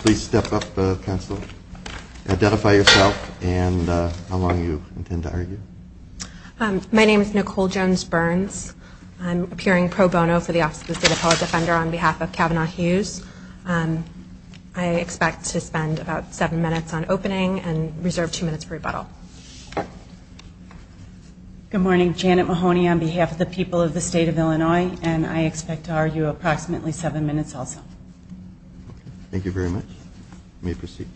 Please step up, counsel. Identify yourself and how long you intend to argue. My name is Nicole Jones-Burns. I'm appearing pro bono for the Office of the State Appellate Defender on behalf of Kavanaugh Hughes. I expect to spend about seven minutes on opening and reserve two minutes for rebuttal. Good morning. Janet Mahoney on behalf of the people of the state of Illinois, and I expect to argue approximately seven minutes also. Thank you very much. You may proceed.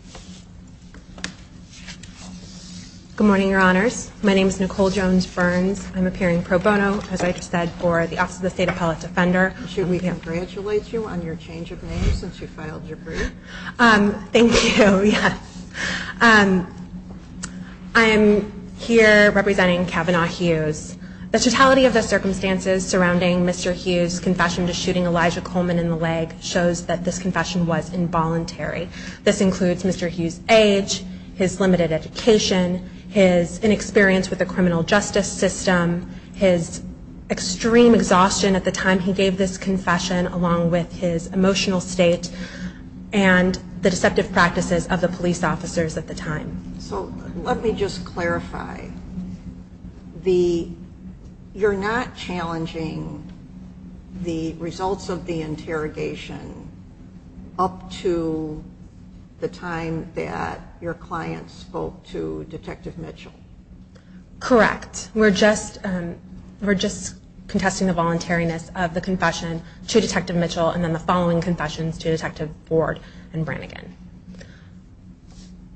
Good morning, Your Honors. My name is Nicole Jones-Burns. I'm appearing pro bono, as I just said, for the Office of the State Appellate Defender. Should we congratulate you on your change of name since you filed your brief? Thank you, yes. I am here representing Kavanaugh Hughes. The totality of the circumstances surrounding Mr. Hughes' confession to shooting Elijah Coleman in the leg shows that this confession was involuntary. This includes Mr. Hughes' age, his limited education, his inexperience with the criminal justice system, his extreme exhaustion at the time he gave this confession, along with his emotional state and the deceptive practices of the police officers at the time. So let me just clarify. You're not challenging the results of the interrogation up to the time that your client spoke to Detective Mitchell? Correct. We're just contesting the voluntariness of the confession to Detective Mitchell and then the following confessions to Detective Board and Brannigan.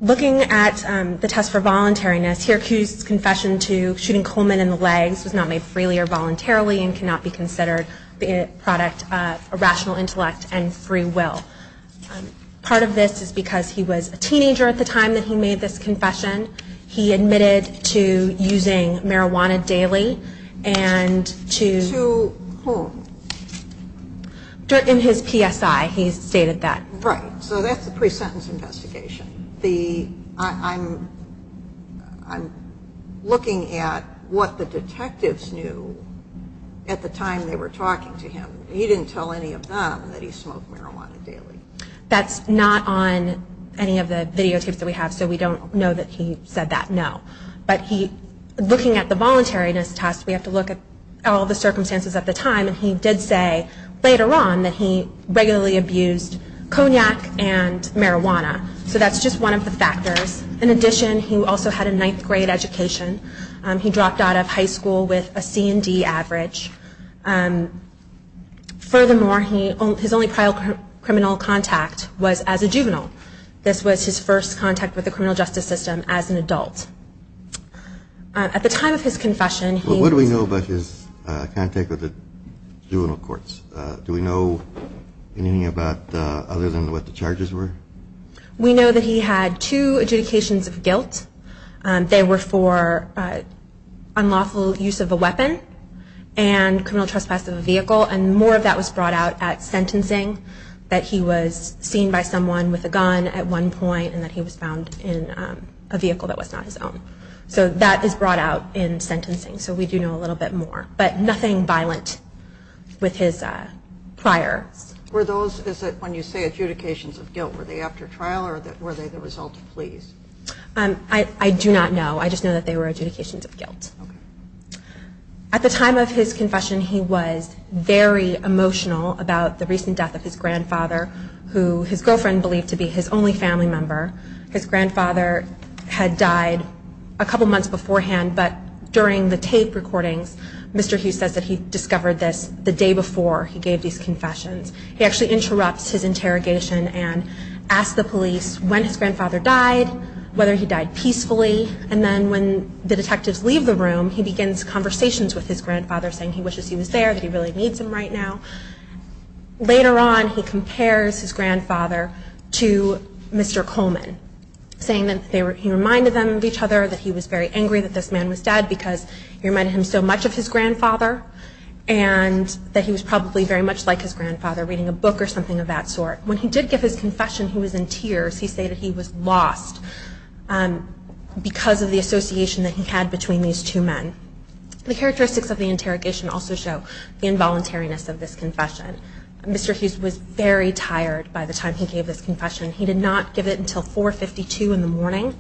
Looking at the test for voluntariness, Hughes' confession to shooting Coleman in the legs was not made freely or voluntarily and cannot be considered the product of a rational intellect and free will. Part of this is because he was a teenager at the time that he made this confession. He admitted to using marijuana daily and to... To whom? In his PSI, he stated that. Right. So that's the pre-sentence investigation. I'm looking at what the detectives knew at the time they were talking to him. He didn't tell any of them that he smoked marijuana daily. That's not on any of the videotapes that we have, so we don't know that he said that, no. But looking at the voluntariness test, we have to look at all the circumstances at the time, and he did say later on that he regularly abused cognac and marijuana. So that's just one of the factors. In addition, he also had a 9th grade education. He dropped out of high school with a C and D average. Furthermore, his only prior criminal contact was as a juvenile. This was his first contact with the criminal justice system as an adult. At the time of his confession, he... He was in juvenile courts. Do we know anything other than what the charges were? We know that he had two adjudications of guilt. They were for unlawful use of a weapon and criminal trespass of a vehicle, and more of that was brought out at sentencing. That he was seen by someone with a gun at one point, and that he was found in a vehicle that was not his own. So that is brought out in sentencing, so we do know a little bit more. But nothing violent with his prior... Were those, when you say adjudications of guilt, were they after trial or were they the result of pleas? I do not know. I just know that they were adjudications of guilt. At the time of his confession, he was very emotional about the recent death of his grandfather, who his girlfriend believed to be his only family member. His grandfather had died a couple months beforehand, but during the tape recordings, Mr. Hughes says that he discovered this the day before he gave these confessions. He actually interrupts his interrogation and asks the police when his grandfather died, whether he died peacefully, and then when the detectives leave the room, he says, he wishes he was there, that he really needs him right now. Later on, he compares his grandfather to Mr. Coleman, saying that he reminded them of each other, that he was very angry that this man was dead, because he reminded him so much of his grandfather, and that he was probably very much like his grandfather, reading a book or something of that sort. When he did give his confession, he was in tears. He said that he was lost because of the association that he had between these two men. The characteristics of the interrogation also show the involuntariness of this confession. Mr. Hughes was very tired by the time he gave this confession. He did not give it until 4.52 in the morning.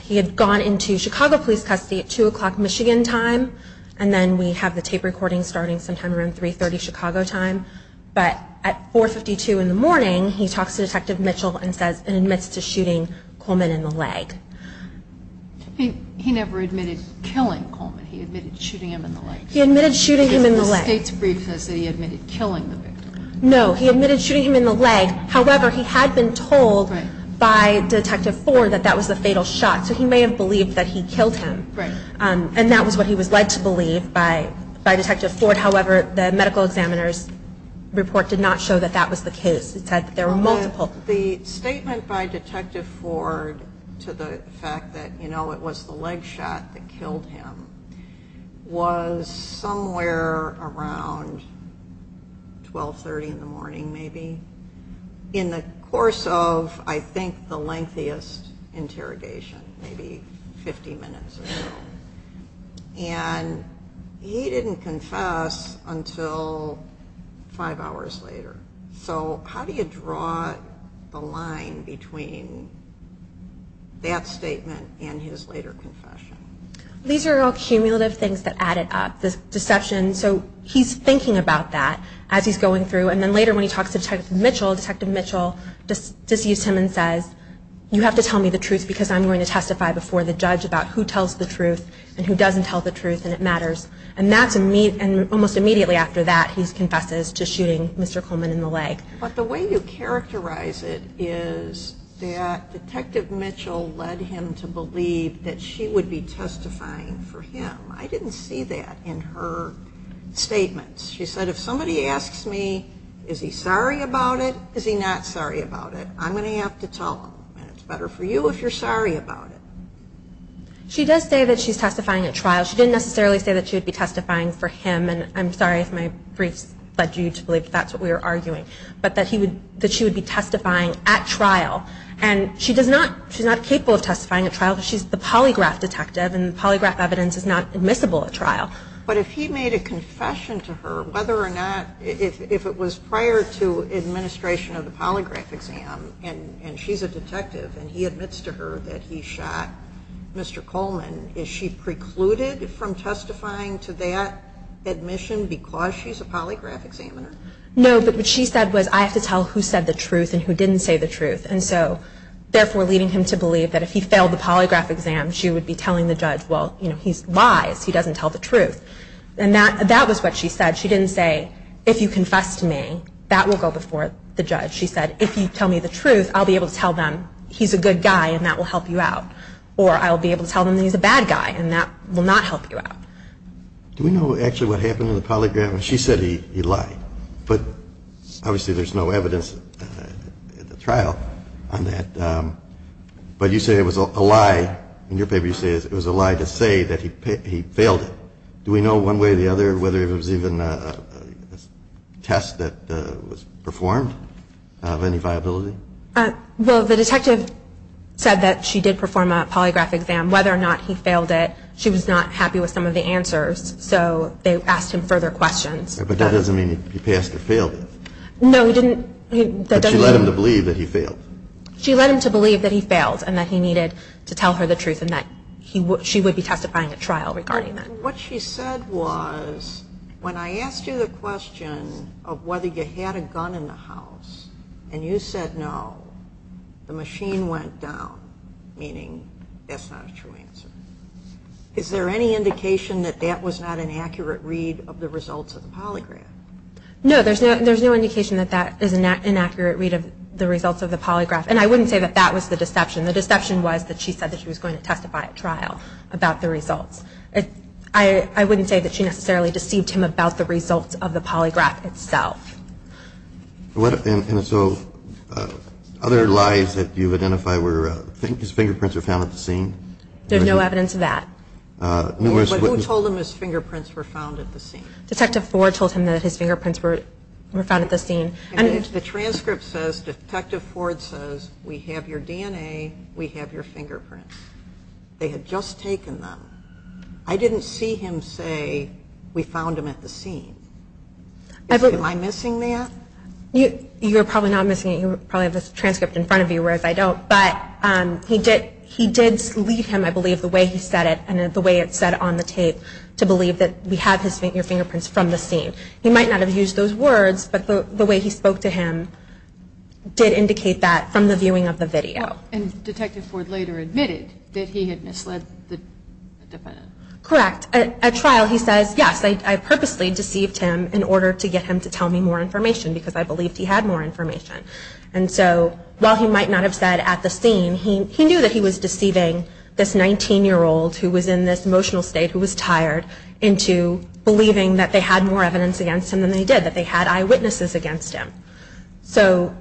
He had gone into Chicago police custody at 2 o'clock Michigan time, and then we have the tape recordings starting sometime around 3.30 Chicago time, but at 4.52 in the morning, he talks to Detective Mitchell and admits to shooting Coleman in the leg. He never admitted killing Coleman. He admitted shooting him in the leg. No, he admitted shooting him in the leg. However, he had been told by Detective Ford that that was the fatal shot, so he may have believed that he killed him, and that was what he was led to believe by Detective Ford. However, the medical examiner's report did not show that that was the case. The statement by Detective Ford to the fact that it was the leg shot that killed him was somewhere around 12.30 in the morning maybe, in the course of I think the lengthiest interrogation, maybe 50 minutes or so, and he didn't confess until five hours later. So how do you draw the line between that statement and his later confession? These are all cumulative things that added up, this deception, so he's thinking about that as he's going through, and then later when he talks to Detective Mitchell, Detective Mitchell disused him and says, you have to tell me the truth because I'm going to testify before the judge about who tells the truth and who doesn't tell the truth, and it matters, and almost immediately after that he confesses to shooting Mr. Coleman in the leg. But the way you characterize it is that Detective Mitchell led him to believe that she would be testifying for him. I didn't see that in her statements. She said, if somebody asks me, is he sorry about it, is he not sorry about it, I'm going to have to tell them, and it's better for you if you're sorry about it. She does say that she's testifying at trial. She didn't necessarily say that she would be testifying for him, and I'm sorry if my briefs led you to believe that's what we were arguing, but that she would be testifying at trial, and she's not capable of testifying at trial because she's the polygraph detective, and the polygraph evidence is not admissible at trial. But if he made a confession to her, whether or not, if it was prior to administration of the polygraph exam, and she's a detective and he admits to her that he shot Mr. Coleman, is she precluded from testifying to that admission because she's a polygraph examiner? No, but what she said was, I have to tell who said the truth and who didn't say the truth, and so therefore leading him to believe that if he failed the polygraph exam, she would be telling the judge, well, he lies, he doesn't tell the truth, and that was what she said. She didn't say, if you confess to me, that will go before the judge. She said, if you tell me the truth, I'll be able to tell them he's a good guy and that will help you out, or I'll be able to tell them he's a bad guy and that will not help you out. Do we know actually what happened in the polygraph? She said he lied, but obviously there's no evidence at the trial on that. But you say it was a lie, in your paper you say it was a lie to say that he failed it. Do we know one way or the other whether it was even a test that was performed of any viability? Well, the detective said that she did perform a polygraph exam. Whether or not he failed it, she was not happy with some of the answers, so they asked him further questions. But that doesn't mean he passed or failed it. No, he didn't. But she led him to believe that he failed. She led him to believe that he failed and that he needed to tell her the truth and that she would be testifying at trial regarding that. And what she said was, when I asked you the question of whether you had a gun in the house, and you said no, the machine went down, meaning that's not a true answer. Is there any indication that that was not an accurate read of the results of the polygraph? No, there's no indication that that is an inaccurate read of the results of the polygraph. And I wouldn't say that that was the deception. The deception was that she said that she was going to testify at trial about the results. I wouldn't say that she necessarily deceived him about the results of the polygraph itself. And so other lies that you've identified were his fingerprints were found at the scene? There's no evidence of that. But who told him his fingerprints were found at the scene? Detective Ford told him that his fingerprints were found at the scene. The transcript says, Detective Ford says, we have your DNA, we have your fingerprints. They had just taken them. I didn't see him say, we found them at the scene. Am I missing that? You're probably not missing it. You probably have the transcript in front of you, whereas I don't. But he did lead him, I believe, the way he said it and the way it's said on the tape, to believe that we have your fingerprints from the scene. He might not have used those words, but the way he spoke to him did indicate that from the viewing of the video. And Detective Ford later admitted that he had misled the defendant. Correct. At trial, he says, yes, I purposely deceived him in order to get him to tell me more information because I believed he had more information. And so while he might not have said at the scene, he knew that he was deceiving this 19-year-old who was in this emotional state, who was tired, into believing that they had more evidence against him than they did, that they had eyewitnesses against him. So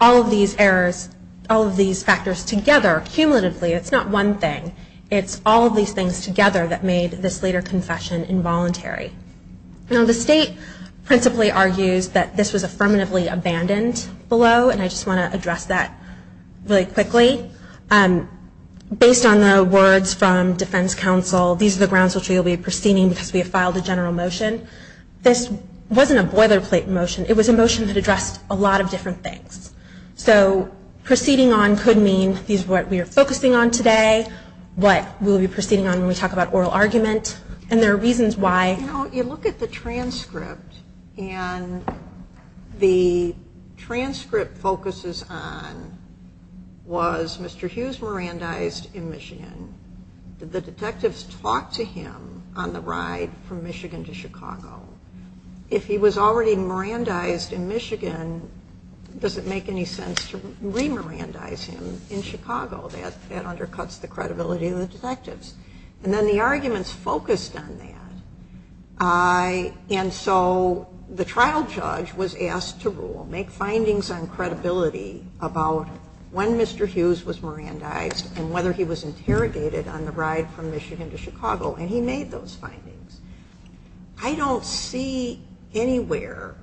all of these errors, all of these factors together, cumulatively, it's not one thing. It's all of these things together that made this later confession involuntary. Now the state principally argues that this was affirmatively abandoned below, and I just want to address that really quickly. Based on the words from defense counsel, these are the grounds which we will be proceeding because we have filed a general motion. This wasn't a boilerplate motion. It was a motion that addressed a lot of different things. So proceeding on could mean these are what we are focusing on today, what we will be proceeding on when we talk about oral argument, and there are reasons why. You know, you look at the transcript, and the transcript focuses on, was Mr. Hughes Mirandized in Michigan? Did the detectives talk to him on the ride from Michigan to Chicago? If he was already Mirandized in Michigan, does it make any sense to re-Mirandize him in Chicago? That undercuts the credibility of the detectives. And then the arguments focused on that, and so the trial judge was asked to rule, make findings on credibility about when Mr. Hughes was Mirandized and whether he was interrogated on the ride from Michigan to Chicago, and he made those findings. I don't see anywhere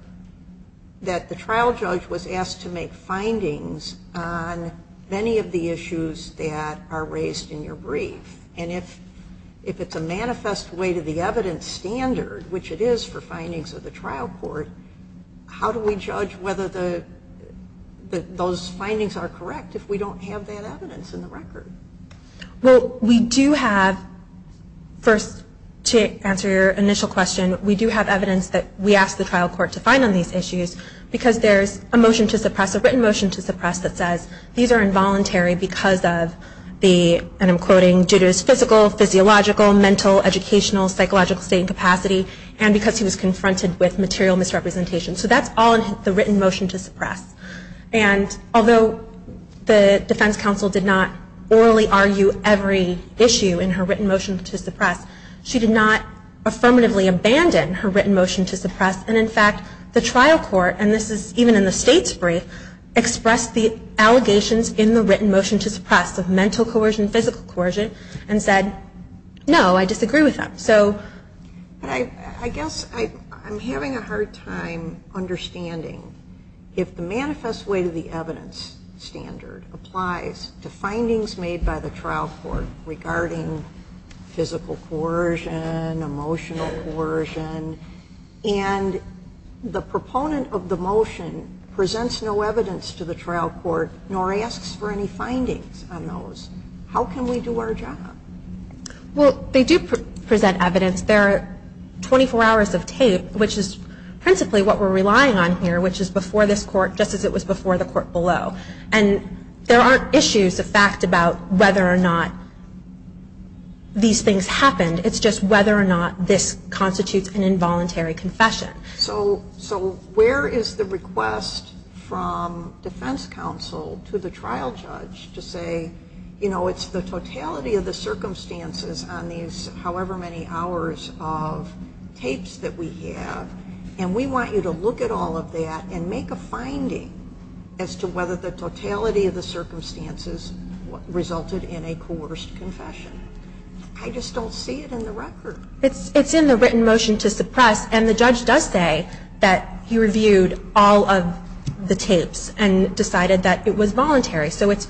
that the trial judge was asked to make findings on any of the issues that are raised in your brief, and if it's a manifest way to the evidence standard, which it is for findings of the trial court, how do we judge whether those findings are correct if we don't have that evidence in the record? Well, we do have, first, to answer your initial question, we do have evidence that we asked the trial court to find on these issues because there's a motion to suppress, a written motion to suppress, that says these are involuntary because of the, and I'm quoting, due to his physical, physiological, mental, educational, psychological state and capacity, and because he was confronted with material misrepresentation. So that's all in the written motion to suppress. And although the defense counsel did not orally argue every issue in her written motion to suppress, and in fact, the trial court, and this is even in the state's brief, expressed the allegations in the written motion to suppress of mental coercion, physical coercion, and said, no, I disagree with that. I guess I'm having a hard time understanding if the manifest way to the evidence standard applies to findings made by the trial court regarding physical coercion, emotional coercion, and the proponent of the motion presents no evidence to the trial court, nor asks for any findings on those. How can we do our job? Well, they do present evidence. There are 24 hours of tape, which is principally what we're relying on here, which is before this court, just as it was before the court below. And there aren't issues of fact about whether or not these things happened. It's just whether or not this constitutes an involuntary confession. So where is the request from defense counsel to the trial judge to say, you know, it's the totality of the circumstances on these however many hours of tapes that we have, and we want you to look at all of that and make a finding as to whether the totality of the circumstances resulted in a coerced confession. I just don't see it in the record. It's in the written motion to suppress, and the judge does say that he reviewed all of the tapes and decided that it was voluntary. So it's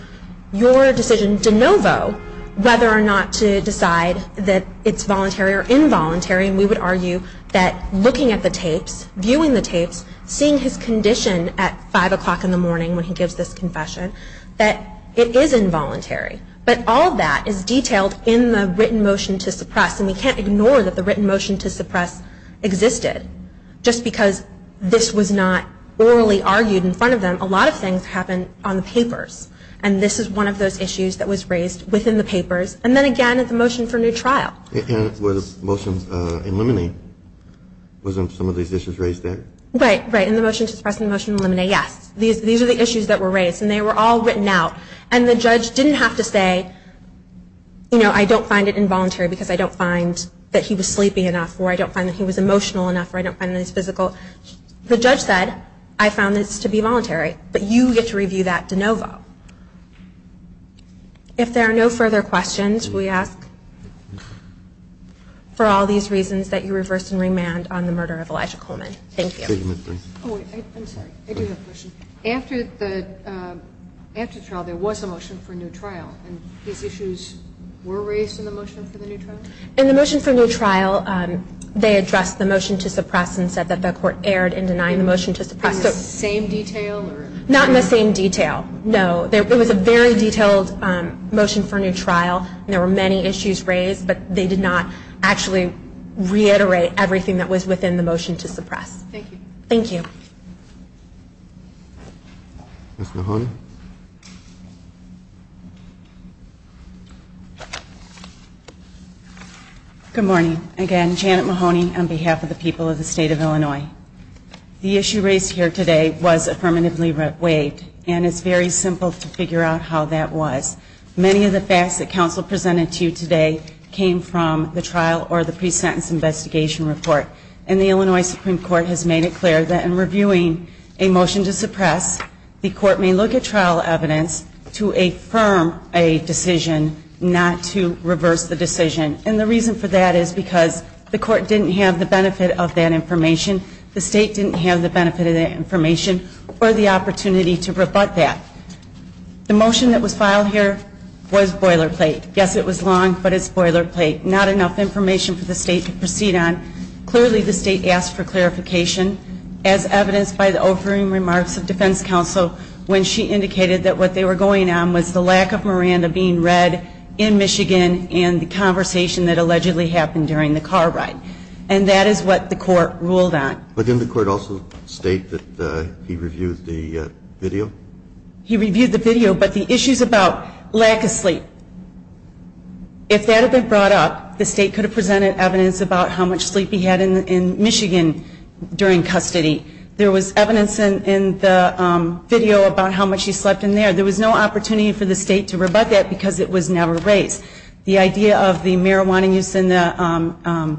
your decision de novo whether or not to decide that it's voluntary or involuntary, and we would argue that looking at the tapes, viewing the tapes, seeing his condition at 5 o'clock in the morning when he gives this confession, that it is involuntary. But all of that is detailed in the written motion to suppress, and we can't ignore that the written motion to suppress existed. Just because this was not orally argued in front of them, a lot of things happened on the papers, and this is one of those issues that was raised within the papers. And then, again, it's a motion for new trial. And it was motions in limine. Wasn't some of these issues raised there? Right, right. In the motion to suppress and the motion in limine, yes. These are the issues that were raised, and they were all written out, and the judge didn't have to say, you know, I don't find it involuntary because I don't find that he was sleeping enough, or I don't find that he was emotional enough, or I don't find that he was physical. The judge said, I found this to be voluntary, but you get to review that de novo. If there are no further questions, we ask for all these reasons that you reverse and remand on the murder of Elijah Coleman. Thank you. I'm sorry, I do have a question. After the trial, there was a motion for new trial, and these issues were raised in the motion for the new trial? In the motion for new trial, they addressed the motion to suppress and said that the court erred in denying the motion to suppress. In the same detail? Not in the same detail, no. It was a very detailed motion for new trial, and there were many issues raised, but they did not actually reiterate everything that was within the motion to suppress. Thank you. Thank you. Ms. Mahoney? Good morning. Again, Janet Mahoney on behalf of the people of the State of Illinois. The issue raised here today was affirmatively waived, and it's very simple to figure out how that was. Many of the facts that counsel presented to you today came from the trial or the pre-sentence investigation report, and the Illinois Supreme Court has made it clear that in reviewing a motion to suppress, the court may look at trial evidence to affirm a decision not to reverse the decision. And the reason for that is because the court didn't have the benefit of that information, the state didn't have the benefit of that information, or the opportunity to rebut that. The motion that was filed here was boilerplate. Yes, it was long, but it's boilerplate. Not enough information for the state to proceed on. Clearly the state asked for clarification, as evidenced by the offering remarks of defense counsel, when she indicated that what they were going on was the lack of Miranda being read in Michigan and the conversation that allegedly happened during the car ride. And that is what the court ruled on. But didn't the court also state that he reviewed the video? He reviewed the video, but the issues about lack of sleep, if that had been brought up, the state could have presented evidence about how much sleep he had in Michigan during custody. There was evidence in the video about how much he slept in there. There was no opportunity for the state to rebut that because it was never raised. The idea of the marijuana use and the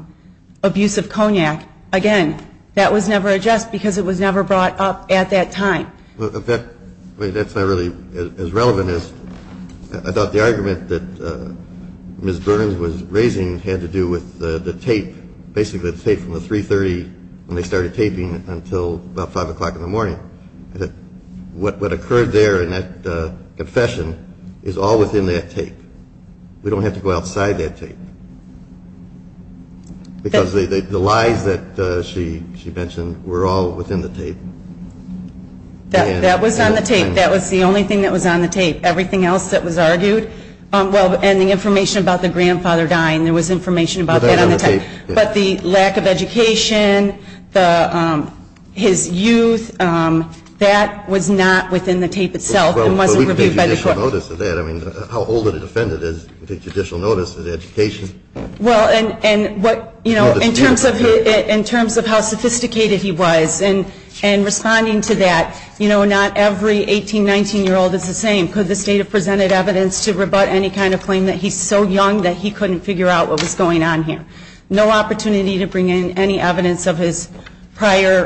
abuse of cognac, again, that was never addressed because it was never brought up at that time. In fact, that's not really as relevant as I thought the argument that Ms. Burns was raising had to do with the tape, basically the tape from the 3.30 when they started taping until about 5 o'clock in the morning. What occurred there in that confession is all within that tape. We don't have to go outside that tape. Because the lies that she mentioned were all within the tape. That was on the tape. That was the only thing that was on the tape. Everything else that was argued, well, and the information about the grandfather dying, there was information about that on the tape. But the lack of education, his youth, that was not within the tape itself and wasn't reviewed by the court. I mean, how old did he defend it as a judicial notice of education? Well, in terms of how sophisticated he was in responding to that, you know, not every 18, 19-year-old is the same. Could the state have presented evidence to rebut any kind of claim that he's so young that he couldn't figure out what was going on here? No opportunity to bring in any evidence of his prior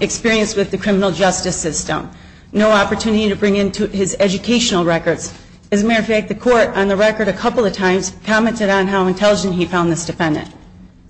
experience with the criminal justice system. No opportunity to bring in his educational records. As a matter of fact, the court on the record a couple of times commented on how intelligent he found this defendant.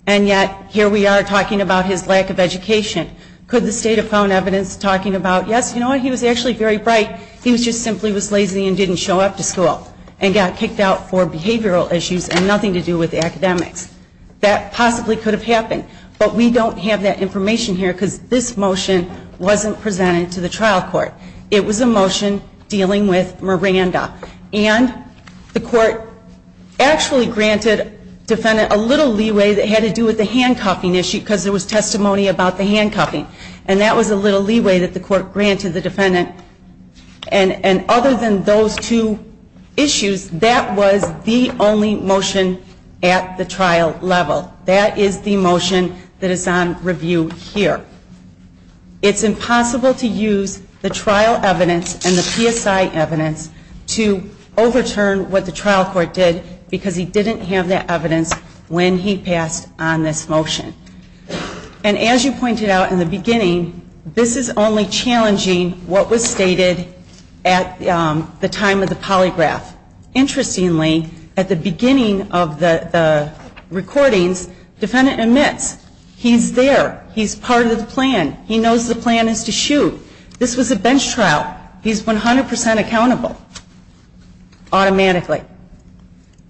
And yet, here we are talking about his lack of education. Could the state have found evidence talking about, yes, you know what, he was actually very bright. He just simply was lazy and didn't show up to school and got kicked out for behavioral issues and nothing to do with academics. That possibly could have happened. But we don't have that information here because this motion wasn't presented to the trial court. It was a motion dealing with Miranda. And the court actually granted defendant a little leeway that had to do with the handcuffing issue because there was testimony about the handcuffing. And that was a little leeway that the court granted the defendant. And other than those two issues, that was the only motion at the trial level. That is the motion that is on review here. It's impossible to use the trial evidence and the PSI evidence to overturn what the trial court did because he didn't have that evidence when he passed on this motion. And as you pointed out in the beginning, this is only challenging what was stated at the time of the polygraph. Interestingly, at the beginning of the recordings, defendant admits he's there. He's part of the plan. He knows the plan is to shoot. This was a bench trial. He's 100 percent accountable automatically.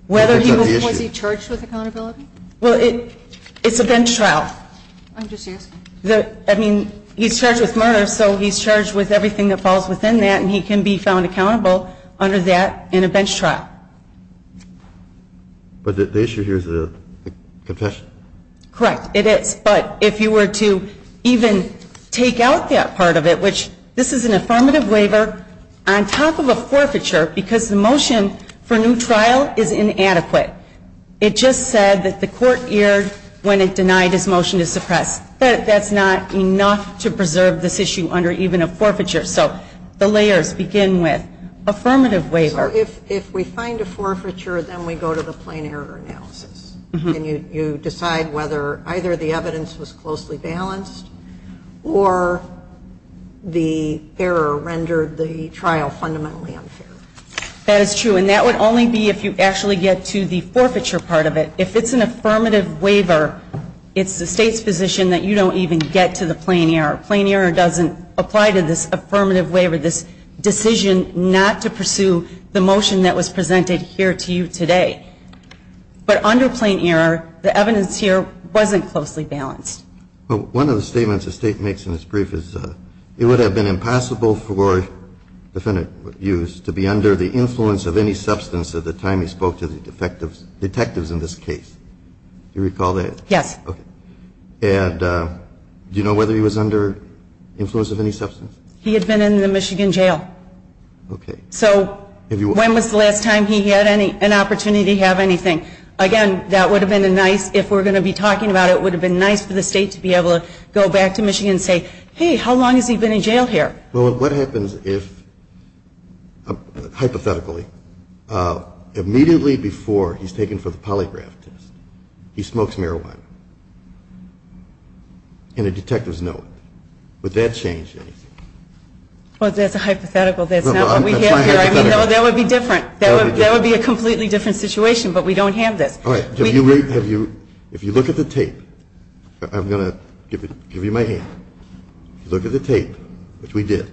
Whether he was charged with accountability? Well, it's a bench trial. I'm just asking. I mean, he's charged with murder, so he's charged with everything that falls within that. And he can be found accountable under that in a bench trial. But the issue here is the confession. Correct. It is. But if you were to even take out that part of it, which this is an affirmative waiver on top of a forfeiture because the motion for new trial is inadequate. It just said that the court erred when it denied his motion to suppress. That's not enough to preserve this issue under even a forfeiture. So the layers begin with affirmative waiver. So if we find a forfeiture, then we go to the plain error analysis. And you decide whether either the evidence was closely balanced or the error rendered the trial fundamentally unfair. That is true. And that would only be if you actually get to the forfeiture part of it. If it's an affirmative waiver, it's the state's position that you don't even get to the plain error. Plain error doesn't apply to this affirmative waiver, this decision not to pursue the motion that was presented here to you today. But under plain error, the evidence here wasn't closely balanced. Well, one of the statements the state makes in its brief is it would have been impossible for a defendant used to be under the influence of any substance at the time he spoke to the detectives in this case. Do you recall that? Yes. Okay. And do you know whether he was under influence of any substance? He had been in the Michigan jail. Okay. So when was the last time he had an opportunity to have anything? Again, that would have been nice if we're going to be talking about it. It would have been nice for the state to be able to go back to Michigan and say, hey, how long has he been in jail here? Well, what happens if, hypothetically, immediately before he's taken for the polygraph test, he smokes marijuana in a detective's note? Would that change anything? Well, that's a hypothetical. That's not what we have here. That would be different. That would be a completely different situation, but we don't have this. All right. If you look at the tape, I'm going to give you my hand. Look at the tape, which we did.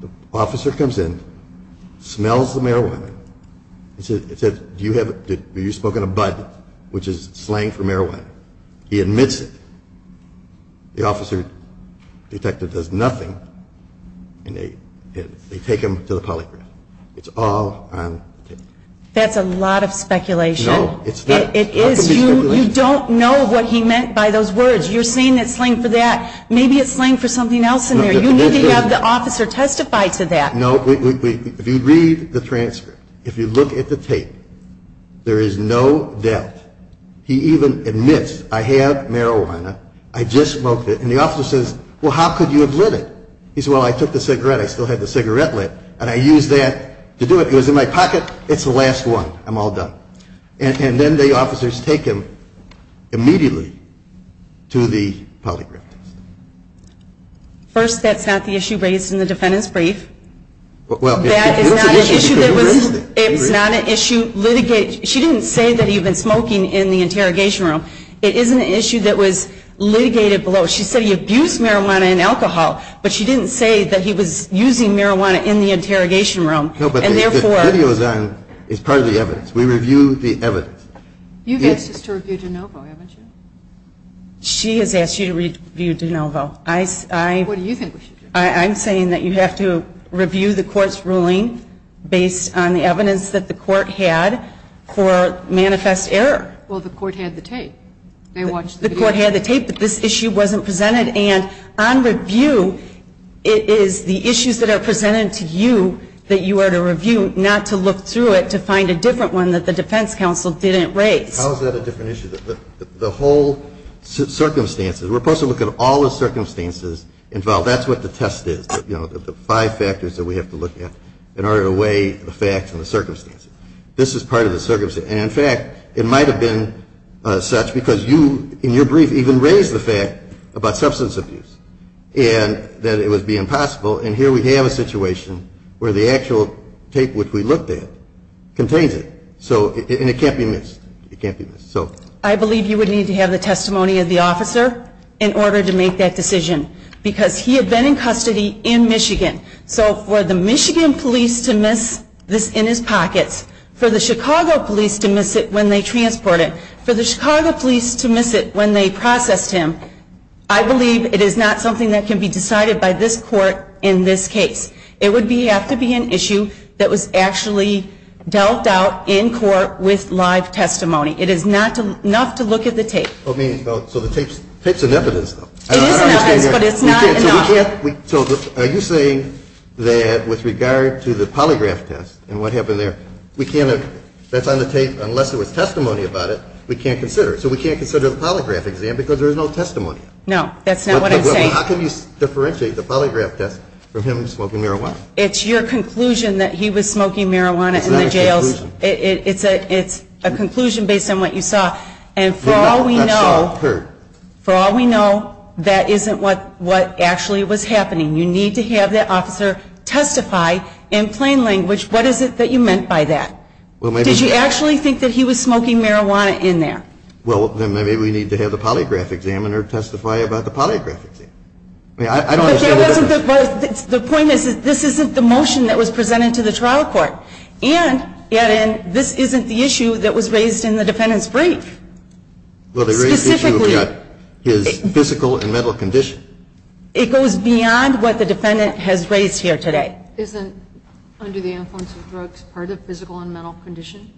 The officer comes in, smells the marijuana, and says, have you smoked a bud, which is slang for marijuana? He admits it. The officer detective does nothing, and they take him to the polygraph. It's all on tape. That's a lot of speculation. No, it's not. It is. You don't know what he meant by those words. You're saying it's slang for that. Maybe it's slang for something else in there. You need to have the officer testify to that. No, if you read the transcript, if you look at the tape, there is no doubt. He even admits, I have marijuana. I just smoked it. And the officer says, well, how could you have lit it? He says, well, I took the cigarette. I still had the cigarette lit, and I used that to do it. It was in my pocket. It's the last one. I'm all done. And then the officers take him immediately to the polygraph test. First, that's not the issue raised in the defendant's brief. That is not an issue that was raised. It's not an issue litigated. She didn't say that he had been smoking in the interrogation room. It is an issue that was litigated below. She said he abused marijuana and alcohol, but she didn't say that he was using marijuana in the interrogation room. No, but the video is on. It's part of the evidence. We review the evidence. You've asked us to review DeNovo, haven't you? She has asked you to review DeNovo. What do you think we should do? I'm saying that you have to review the court's ruling based on the evidence that the court had for manifest error. Well, the court had the tape. They watched the video. The court had the tape, but this issue wasn't presented. And on review, it is the issues that are presented to you that you are to review, not to look through it to find a different one that the defense counsel didn't raise. How is that a different issue? The whole circumstances, we're supposed to look at all the circumstances involved. That's what the test is, you know, the five factors that we have to look at in order to weigh the facts and the circumstances. This is part of the circumstances. And, in fact, it might have been such because you, in your brief, even raised the fact about substance abuse and that it would be impossible. And here we have a situation where the actual tape which we looked at contains it. And it can't be missed. It can't be missed. I believe you would need to have the testimony of the officer in order to make that decision because he had been in custody in Michigan. So for the Michigan police to miss this in his pockets, for the Chicago police to miss it when they transport it, for the Chicago police to miss it when they processed him, I believe it is not something that can be decided by this court in this case. It would have to be an issue that was actually dealt out in court with live testimony. It is not enough to look at the tape. So the tape's in evidence, though. It is in evidence, but it's not enough. So are you saying that with regard to the polygraph test and what happened there, we can't have, that's on the tape, unless there was testimony about it, we can't consider it. So we can't consider the polygraph exam because there is no testimony. No, that's not what I'm saying. How can you differentiate the polygraph test from him smoking marijuana? It's your conclusion that he was smoking marijuana in the jails. It's not a conclusion. It's a conclusion based on what you saw. And for all we know, for all we know, that isn't what actually was happening. You need to have that officer testify in plain language what is it that you meant by that. Did you actually think that he was smoking marijuana in there? Well, then maybe we need to have the polygraph examiner testify about the polygraph exam. The point is that this isn't the motion that was presented to the trial court. And, add in, this isn't the issue that was raised in the defendant's brief. Well, the raised issue is physical and mental condition. It goes beyond what the defendant has raised here today. Isn't under the influence of drugs part of physical and mental condition?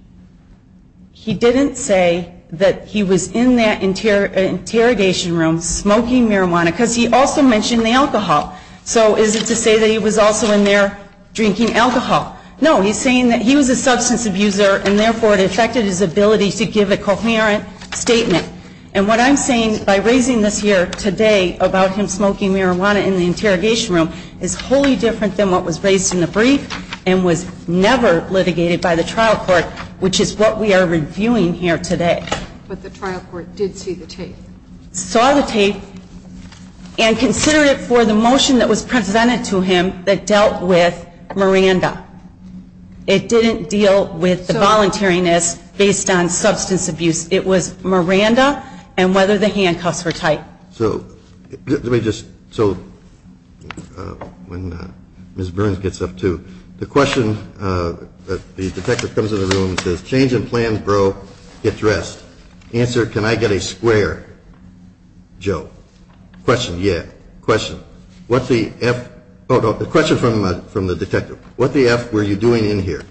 He didn't say that he was in that interrogation room smoking marijuana because he also mentioned the alcohol. So is it to say that he was also in there drinking alcohol? No. He's saying that he was a substance abuser and, therefore, it affected his ability to give a coherent statement. And what I'm saying by raising this here today about him smoking marijuana in the interrogation room is wholly different than what was raised in the brief and was never litigated by the trial court, which is what we are reviewing here today. But the trial court did see the tape. Saw the tape and considered it for the motion that was presented to him that dealt with Miranda. It didn't deal with the voluntariness based on substance abuse. It was Miranda and whether the handcuffs were tight. So let me just, so when Ms. Burns gets up, too, the question, the detective comes in the room and says, change in plans, bro. Get dressed. Answer, can I get a square, Joe? Question, yeah. Question, what's the F, oh, no, the question from the detective. What the F were you doing in here?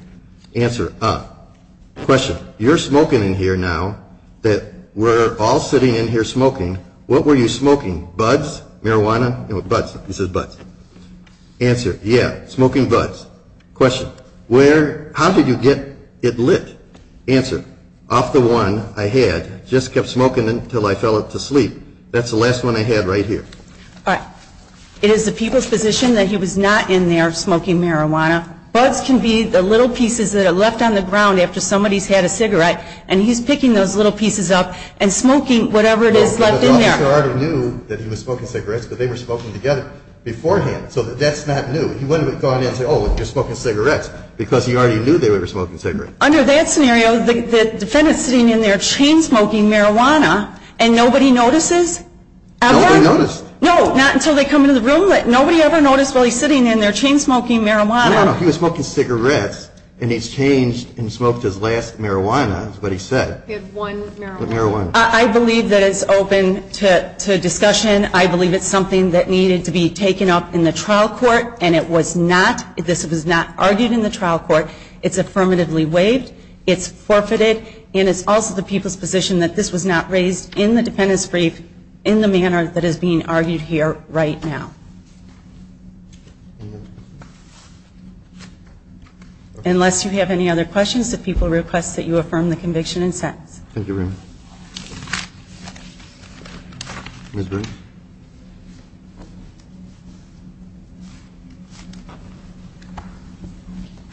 Answer, uh, question, you're smoking in here now that we're all sitting in here smoking. What were you smoking? Buds? Marijuana? No, buds. He says buds. Answer, yeah, smoking buds. Question, where, how did you get it lit? Answer, off the one I had, just kept smoking until I fell asleep. That's the last one I had right here. All right. It is the people's position that he was not in there smoking marijuana. Buds can be the little pieces that are left on the ground after somebody's had a cigarette, and he's picking those little pieces up and smoking whatever it is left in there. The officer already knew that he was smoking cigarettes because they were smoking together beforehand. So that's not new. He wouldn't have gone in and said, oh, you're smoking cigarettes, because he already knew they were smoking cigarettes. Under that scenario, the defendant's sitting in there chain-smoking marijuana, and nobody notices? Nobody noticed. No, not until they come into the room. Nobody ever noticed while he's sitting in there chain-smoking marijuana. No, no, no, he was smoking cigarettes, and he's changed and smoked his last marijuana is what he said. He had one marijuana. One marijuana. I believe that it's open to discussion. I believe it's something that needed to be taken up in the trial court, and it was not. This was not argued in the trial court. It's affirmatively waived. It's forfeited, and it's also the people's position that this was not raised in the defendant's brief in the manner that is being argued here right now. Unless you have any other questions, the people request that you affirm the conviction and sentence. Thank you, Raymond. Ms. Briggs.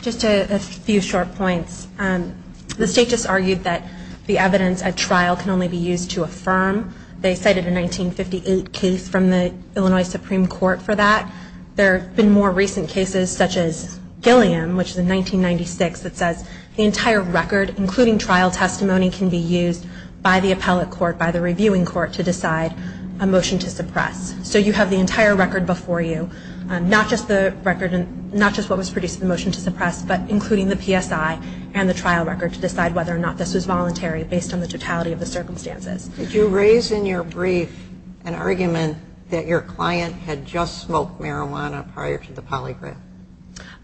Just a few short points. The state just argued that the evidence at trial can only be used to affirm. They cited a 1958 case from the Illinois Supreme Court for that. There have been more recent cases, such as Gilliam, which is in 1996, that says the entire record, including trial testimony, can be used by the appellate court, by the reviewing court, to decide a motion to suppress. So you have the entire record before you, not just what was produced in the motion to suppress, but including the PSI and the trial record to decide whether or not this was voluntary based on the totality of the circumstances. Did you raise in your brief an argument that your client had just smoked marijuana prior to the polygraph?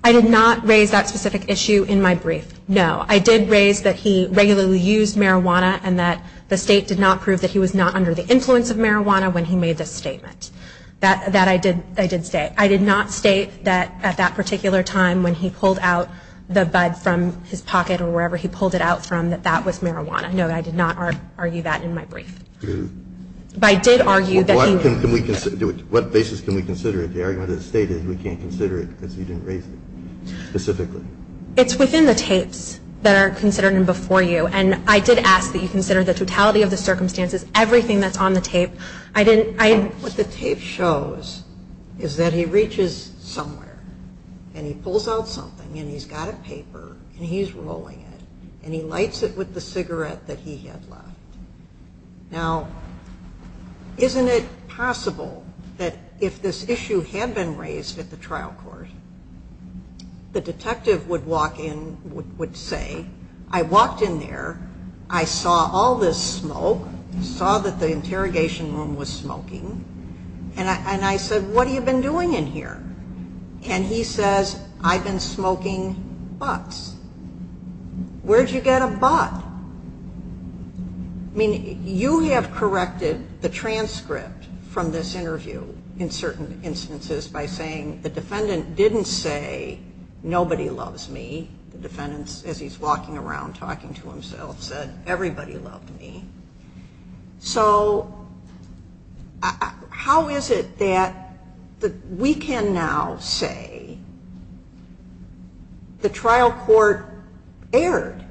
I did not raise that specific issue in my brief. No. I did raise that he regularly used marijuana and that the state did not prove that he was not under the influence of marijuana when he made this statement. That I did state. I did not state that at that particular time, when he pulled out the bud from his pocket or wherever he pulled it out from, that that was marijuana. No, I did not argue that in my brief. But I did argue that he was. What basis can we consider it? The argument of the state is we can't consider it because you didn't raise it specifically. It's within the tapes that are considered before you. And I did ask that you consider the totality of the circumstances, everything that's on the tape. What the tape shows is that he reaches somewhere and he pulls out something and he's got a paper and he's rolling it and he lights it with the cigarette that he had left. Now, isn't it possible that if this issue had been raised at the trial court, the detective would walk in, would say, I walked in there, I saw all this smoke, saw that the interrogation room was smoking, and I said, what have you been doing in here? And he says, I've been smoking butts. Where'd you get a butt? I mean, you have corrected the transcript from this interview in certain instances by saying the defendant didn't say, nobody loves me. The defendant, as he's walking around talking to himself, said, everybody loved me. So how is it that we can now say the trial court erred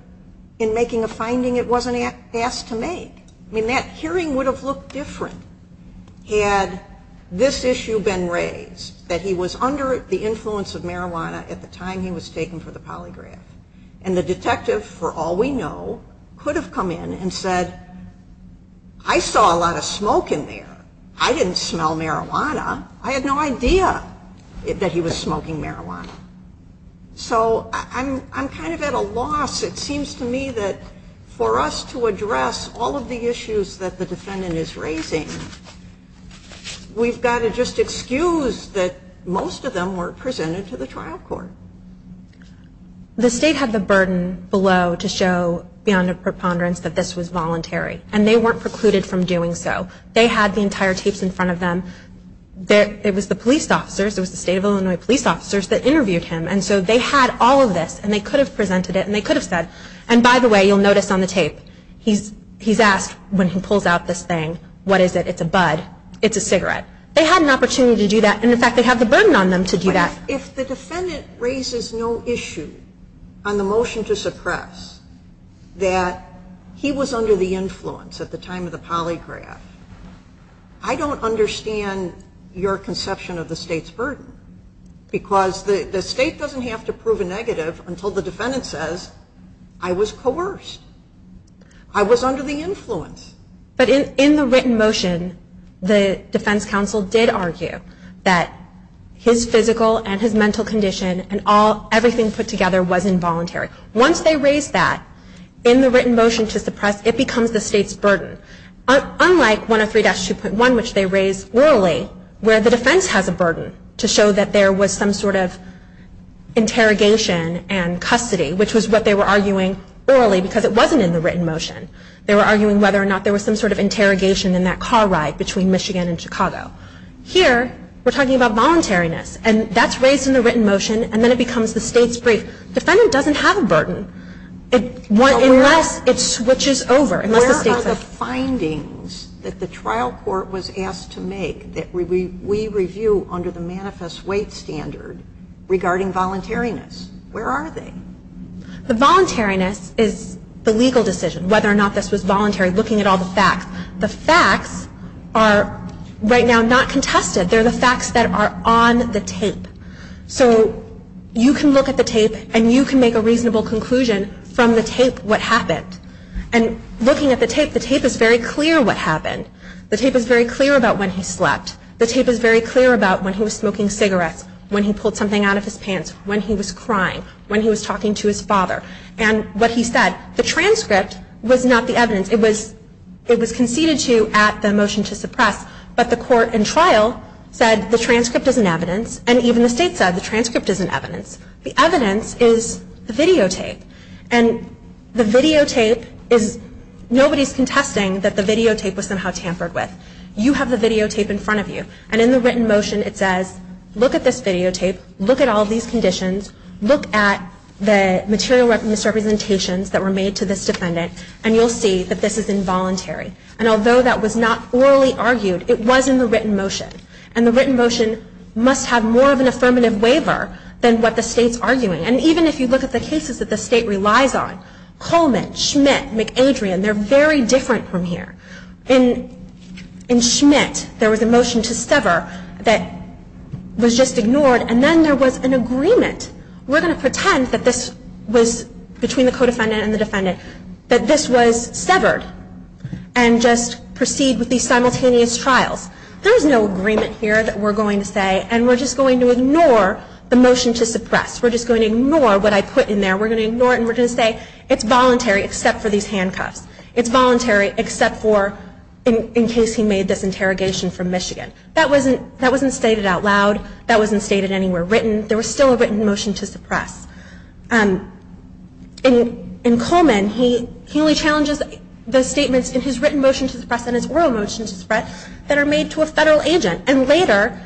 in making a finding it wasn't asked to make? I mean, that hearing would have looked different had this issue been raised, that he was under the influence of marijuana at the time he was taken for the polygraph. And the detective, for all we know, could have come in and said, I saw a lot of smoke in there, I didn't smell marijuana, I had no idea that he was smoking marijuana. So I'm kind of at a loss. It seems to me that for us to address all of the issues that the defendant is raising, we've got to just excuse that most of them were presented to the trial court. The state had the burden below to show beyond a preponderance that this was voluntary. And they weren't precluded from doing so. They had the entire tapes in front of them. It was the police officers, it was the state of Illinois police officers that interviewed him. And so they had all of this, and they could have presented it, and they could have said, and by the way, you'll notice on the tape, he's asked when he pulls out this thing, what is it? It's a bud. It's a cigarette. They had an opportunity to do that, and in fact they have the burden on them to do that. If the defendant raises no issue on the motion to suppress that he was under the influence at the time of the polygraph, I don't understand your conception of the state's burden. Because the state doesn't have to prove a negative until the defendant says, I was coerced. I was under the influence. But in the written motion, the defense counsel did argue that his physical and his mental condition and everything put together was involuntary. Once they raised that in the written motion to suppress, it becomes the state's burden. Unlike 103-2.1, which they raised orally, where the defense has a burden to show that there was some sort of interrogation and custody, which was what they were arguing orally because it wasn't in the written motion. They were arguing whether or not there was some sort of interrogation in that car ride between Michigan and Chicago. Here, we're talking about voluntariness, and that's raised in the written motion, and then it becomes the state's burden. The defendant doesn't have a burden unless it switches over. Where are the findings that the trial court was asked to make that we review under the manifest weight standard regarding voluntariness? Where are they? The voluntariness is the legal decision, whether or not this was voluntary, looking at all the facts. The facts are right now not contested. They're the facts that are on the tape. So you can look at the tape, and you can make a reasonable conclusion from the tape what happened. And looking at the tape, the tape is very clear what happened. The tape is very clear about when he slept. The tape is very clear about when he was smoking cigarettes, when he pulled something out of his pants, when he was crying, when he was talking to his father. And what he said, the transcript was not the evidence. It was conceded to at the motion to suppress, but the court in trial said the transcript is an evidence, and even the state said the transcript is an evidence. The evidence is the videotape. And the videotape is nobody's contesting that the videotape was somehow tampered with. You have the videotape in front of you. And in the written motion it says, look at this videotape, look at all these conditions, look at the material misrepresentations that were made to this defendant, and you'll see that this is involuntary. And although that was not orally argued, it was in the written motion. And the written motion must have more of an affirmative waiver than what the state's arguing. And even if you look at the cases that the state relies on, Coleman, Schmidt, McAdrian, they're very different from here. In Schmidt, there was a motion to sever that was just ignored, and then there was an agreement. We're going to pretend that this was, between the co-defendant and the defendant, that this was severed and just proceed with these simultaneous trials. There is no agreement here that we're going to say, and we're just going to ignore the motion to suppress. We're just going to ignore what I put in there. We're going to ignore it, and we're going to say it's voluntary except for these handcuffs. It's voluntary except for in case he made this interrogation from Michigan. That wasn't stated out loud. That wasn't stated anywhere written. There was still a written motion to suppress. In Coleman, he only challenges the statements in his written motion to suppress and his oral motion to suppress that are made to a federal agent. And later,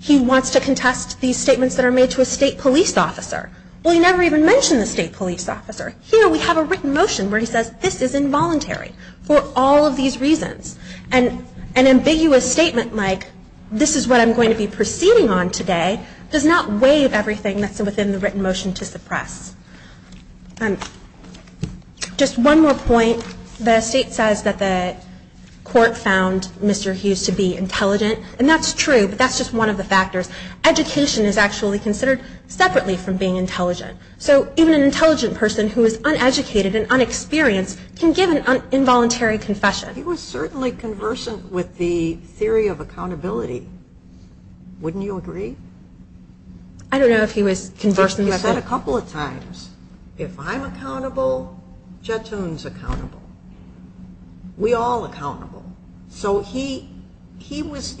he wants to contest these statements that are made to a state police officer. Well, he never even mentioned the state police officer. Here, we have a written motion where he says this is involuntary for all of these reasons. And an ambiguous statement like, this is what I'm going to be proceeding on today, does not waive everything that's within the written motion to suppress. Just one more point. The state says that the court found Mr. Hughes to be intelligent, and that's true, but that's just one of the factors. Education is actually considered separately from being intelligent. So even an intelligent person who is uneducated and unexperienced can give an involuntary confession. He was certainly conversant with the theory of accountability. Wouldn't you agree? I don't know if he was conversant with it. He said a couple of times, if I'm accountable, Jetun's accountable. We all accountable. So he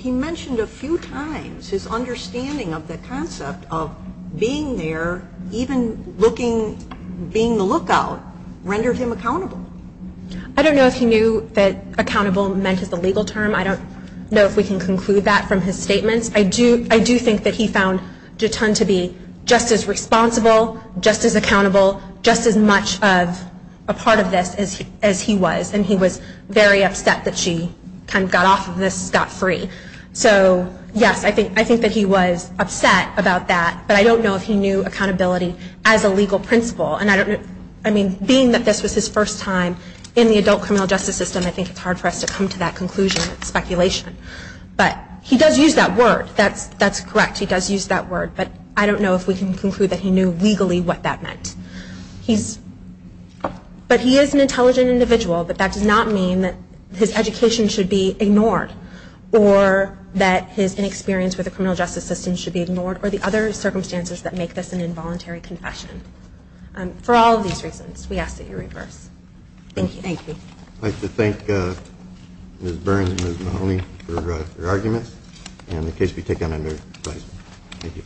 mentioned a few times his understanding of the concept of being there, even being the lookout, rendered him accountable. I don't know if he knew that accountable meant as a legal term. I don't know if we can conclude that from his statements. I do think that he found Jetun to be just as responsible, just as accountable, just as much a part of this as he was. And he was very upset that she kind of got off of this, got free. So, yes, I think that he was upset about that, but I don't know if he knew accountability as a legal principle. And I mean, being that this was his first time in the adult criminal justice system, I think it's hard for us to come to that conclusion. It's speculation. But he does use that word. That's correct. He does use that word. But I don't know if we can conclude that he knew legally what that meant. But he is an intelligent individual, but that does not mean that his education should be ignored or that his inexperience with the criminal justice system should be ignored or the other circumstances that make this an involuntary confession. For all of these reasons, we ask that you reverse. Thank you. Thank you. I'd like to thank Ms. Burns and Ms. Mahoney for their arguments and the case be taken under review. Thank you.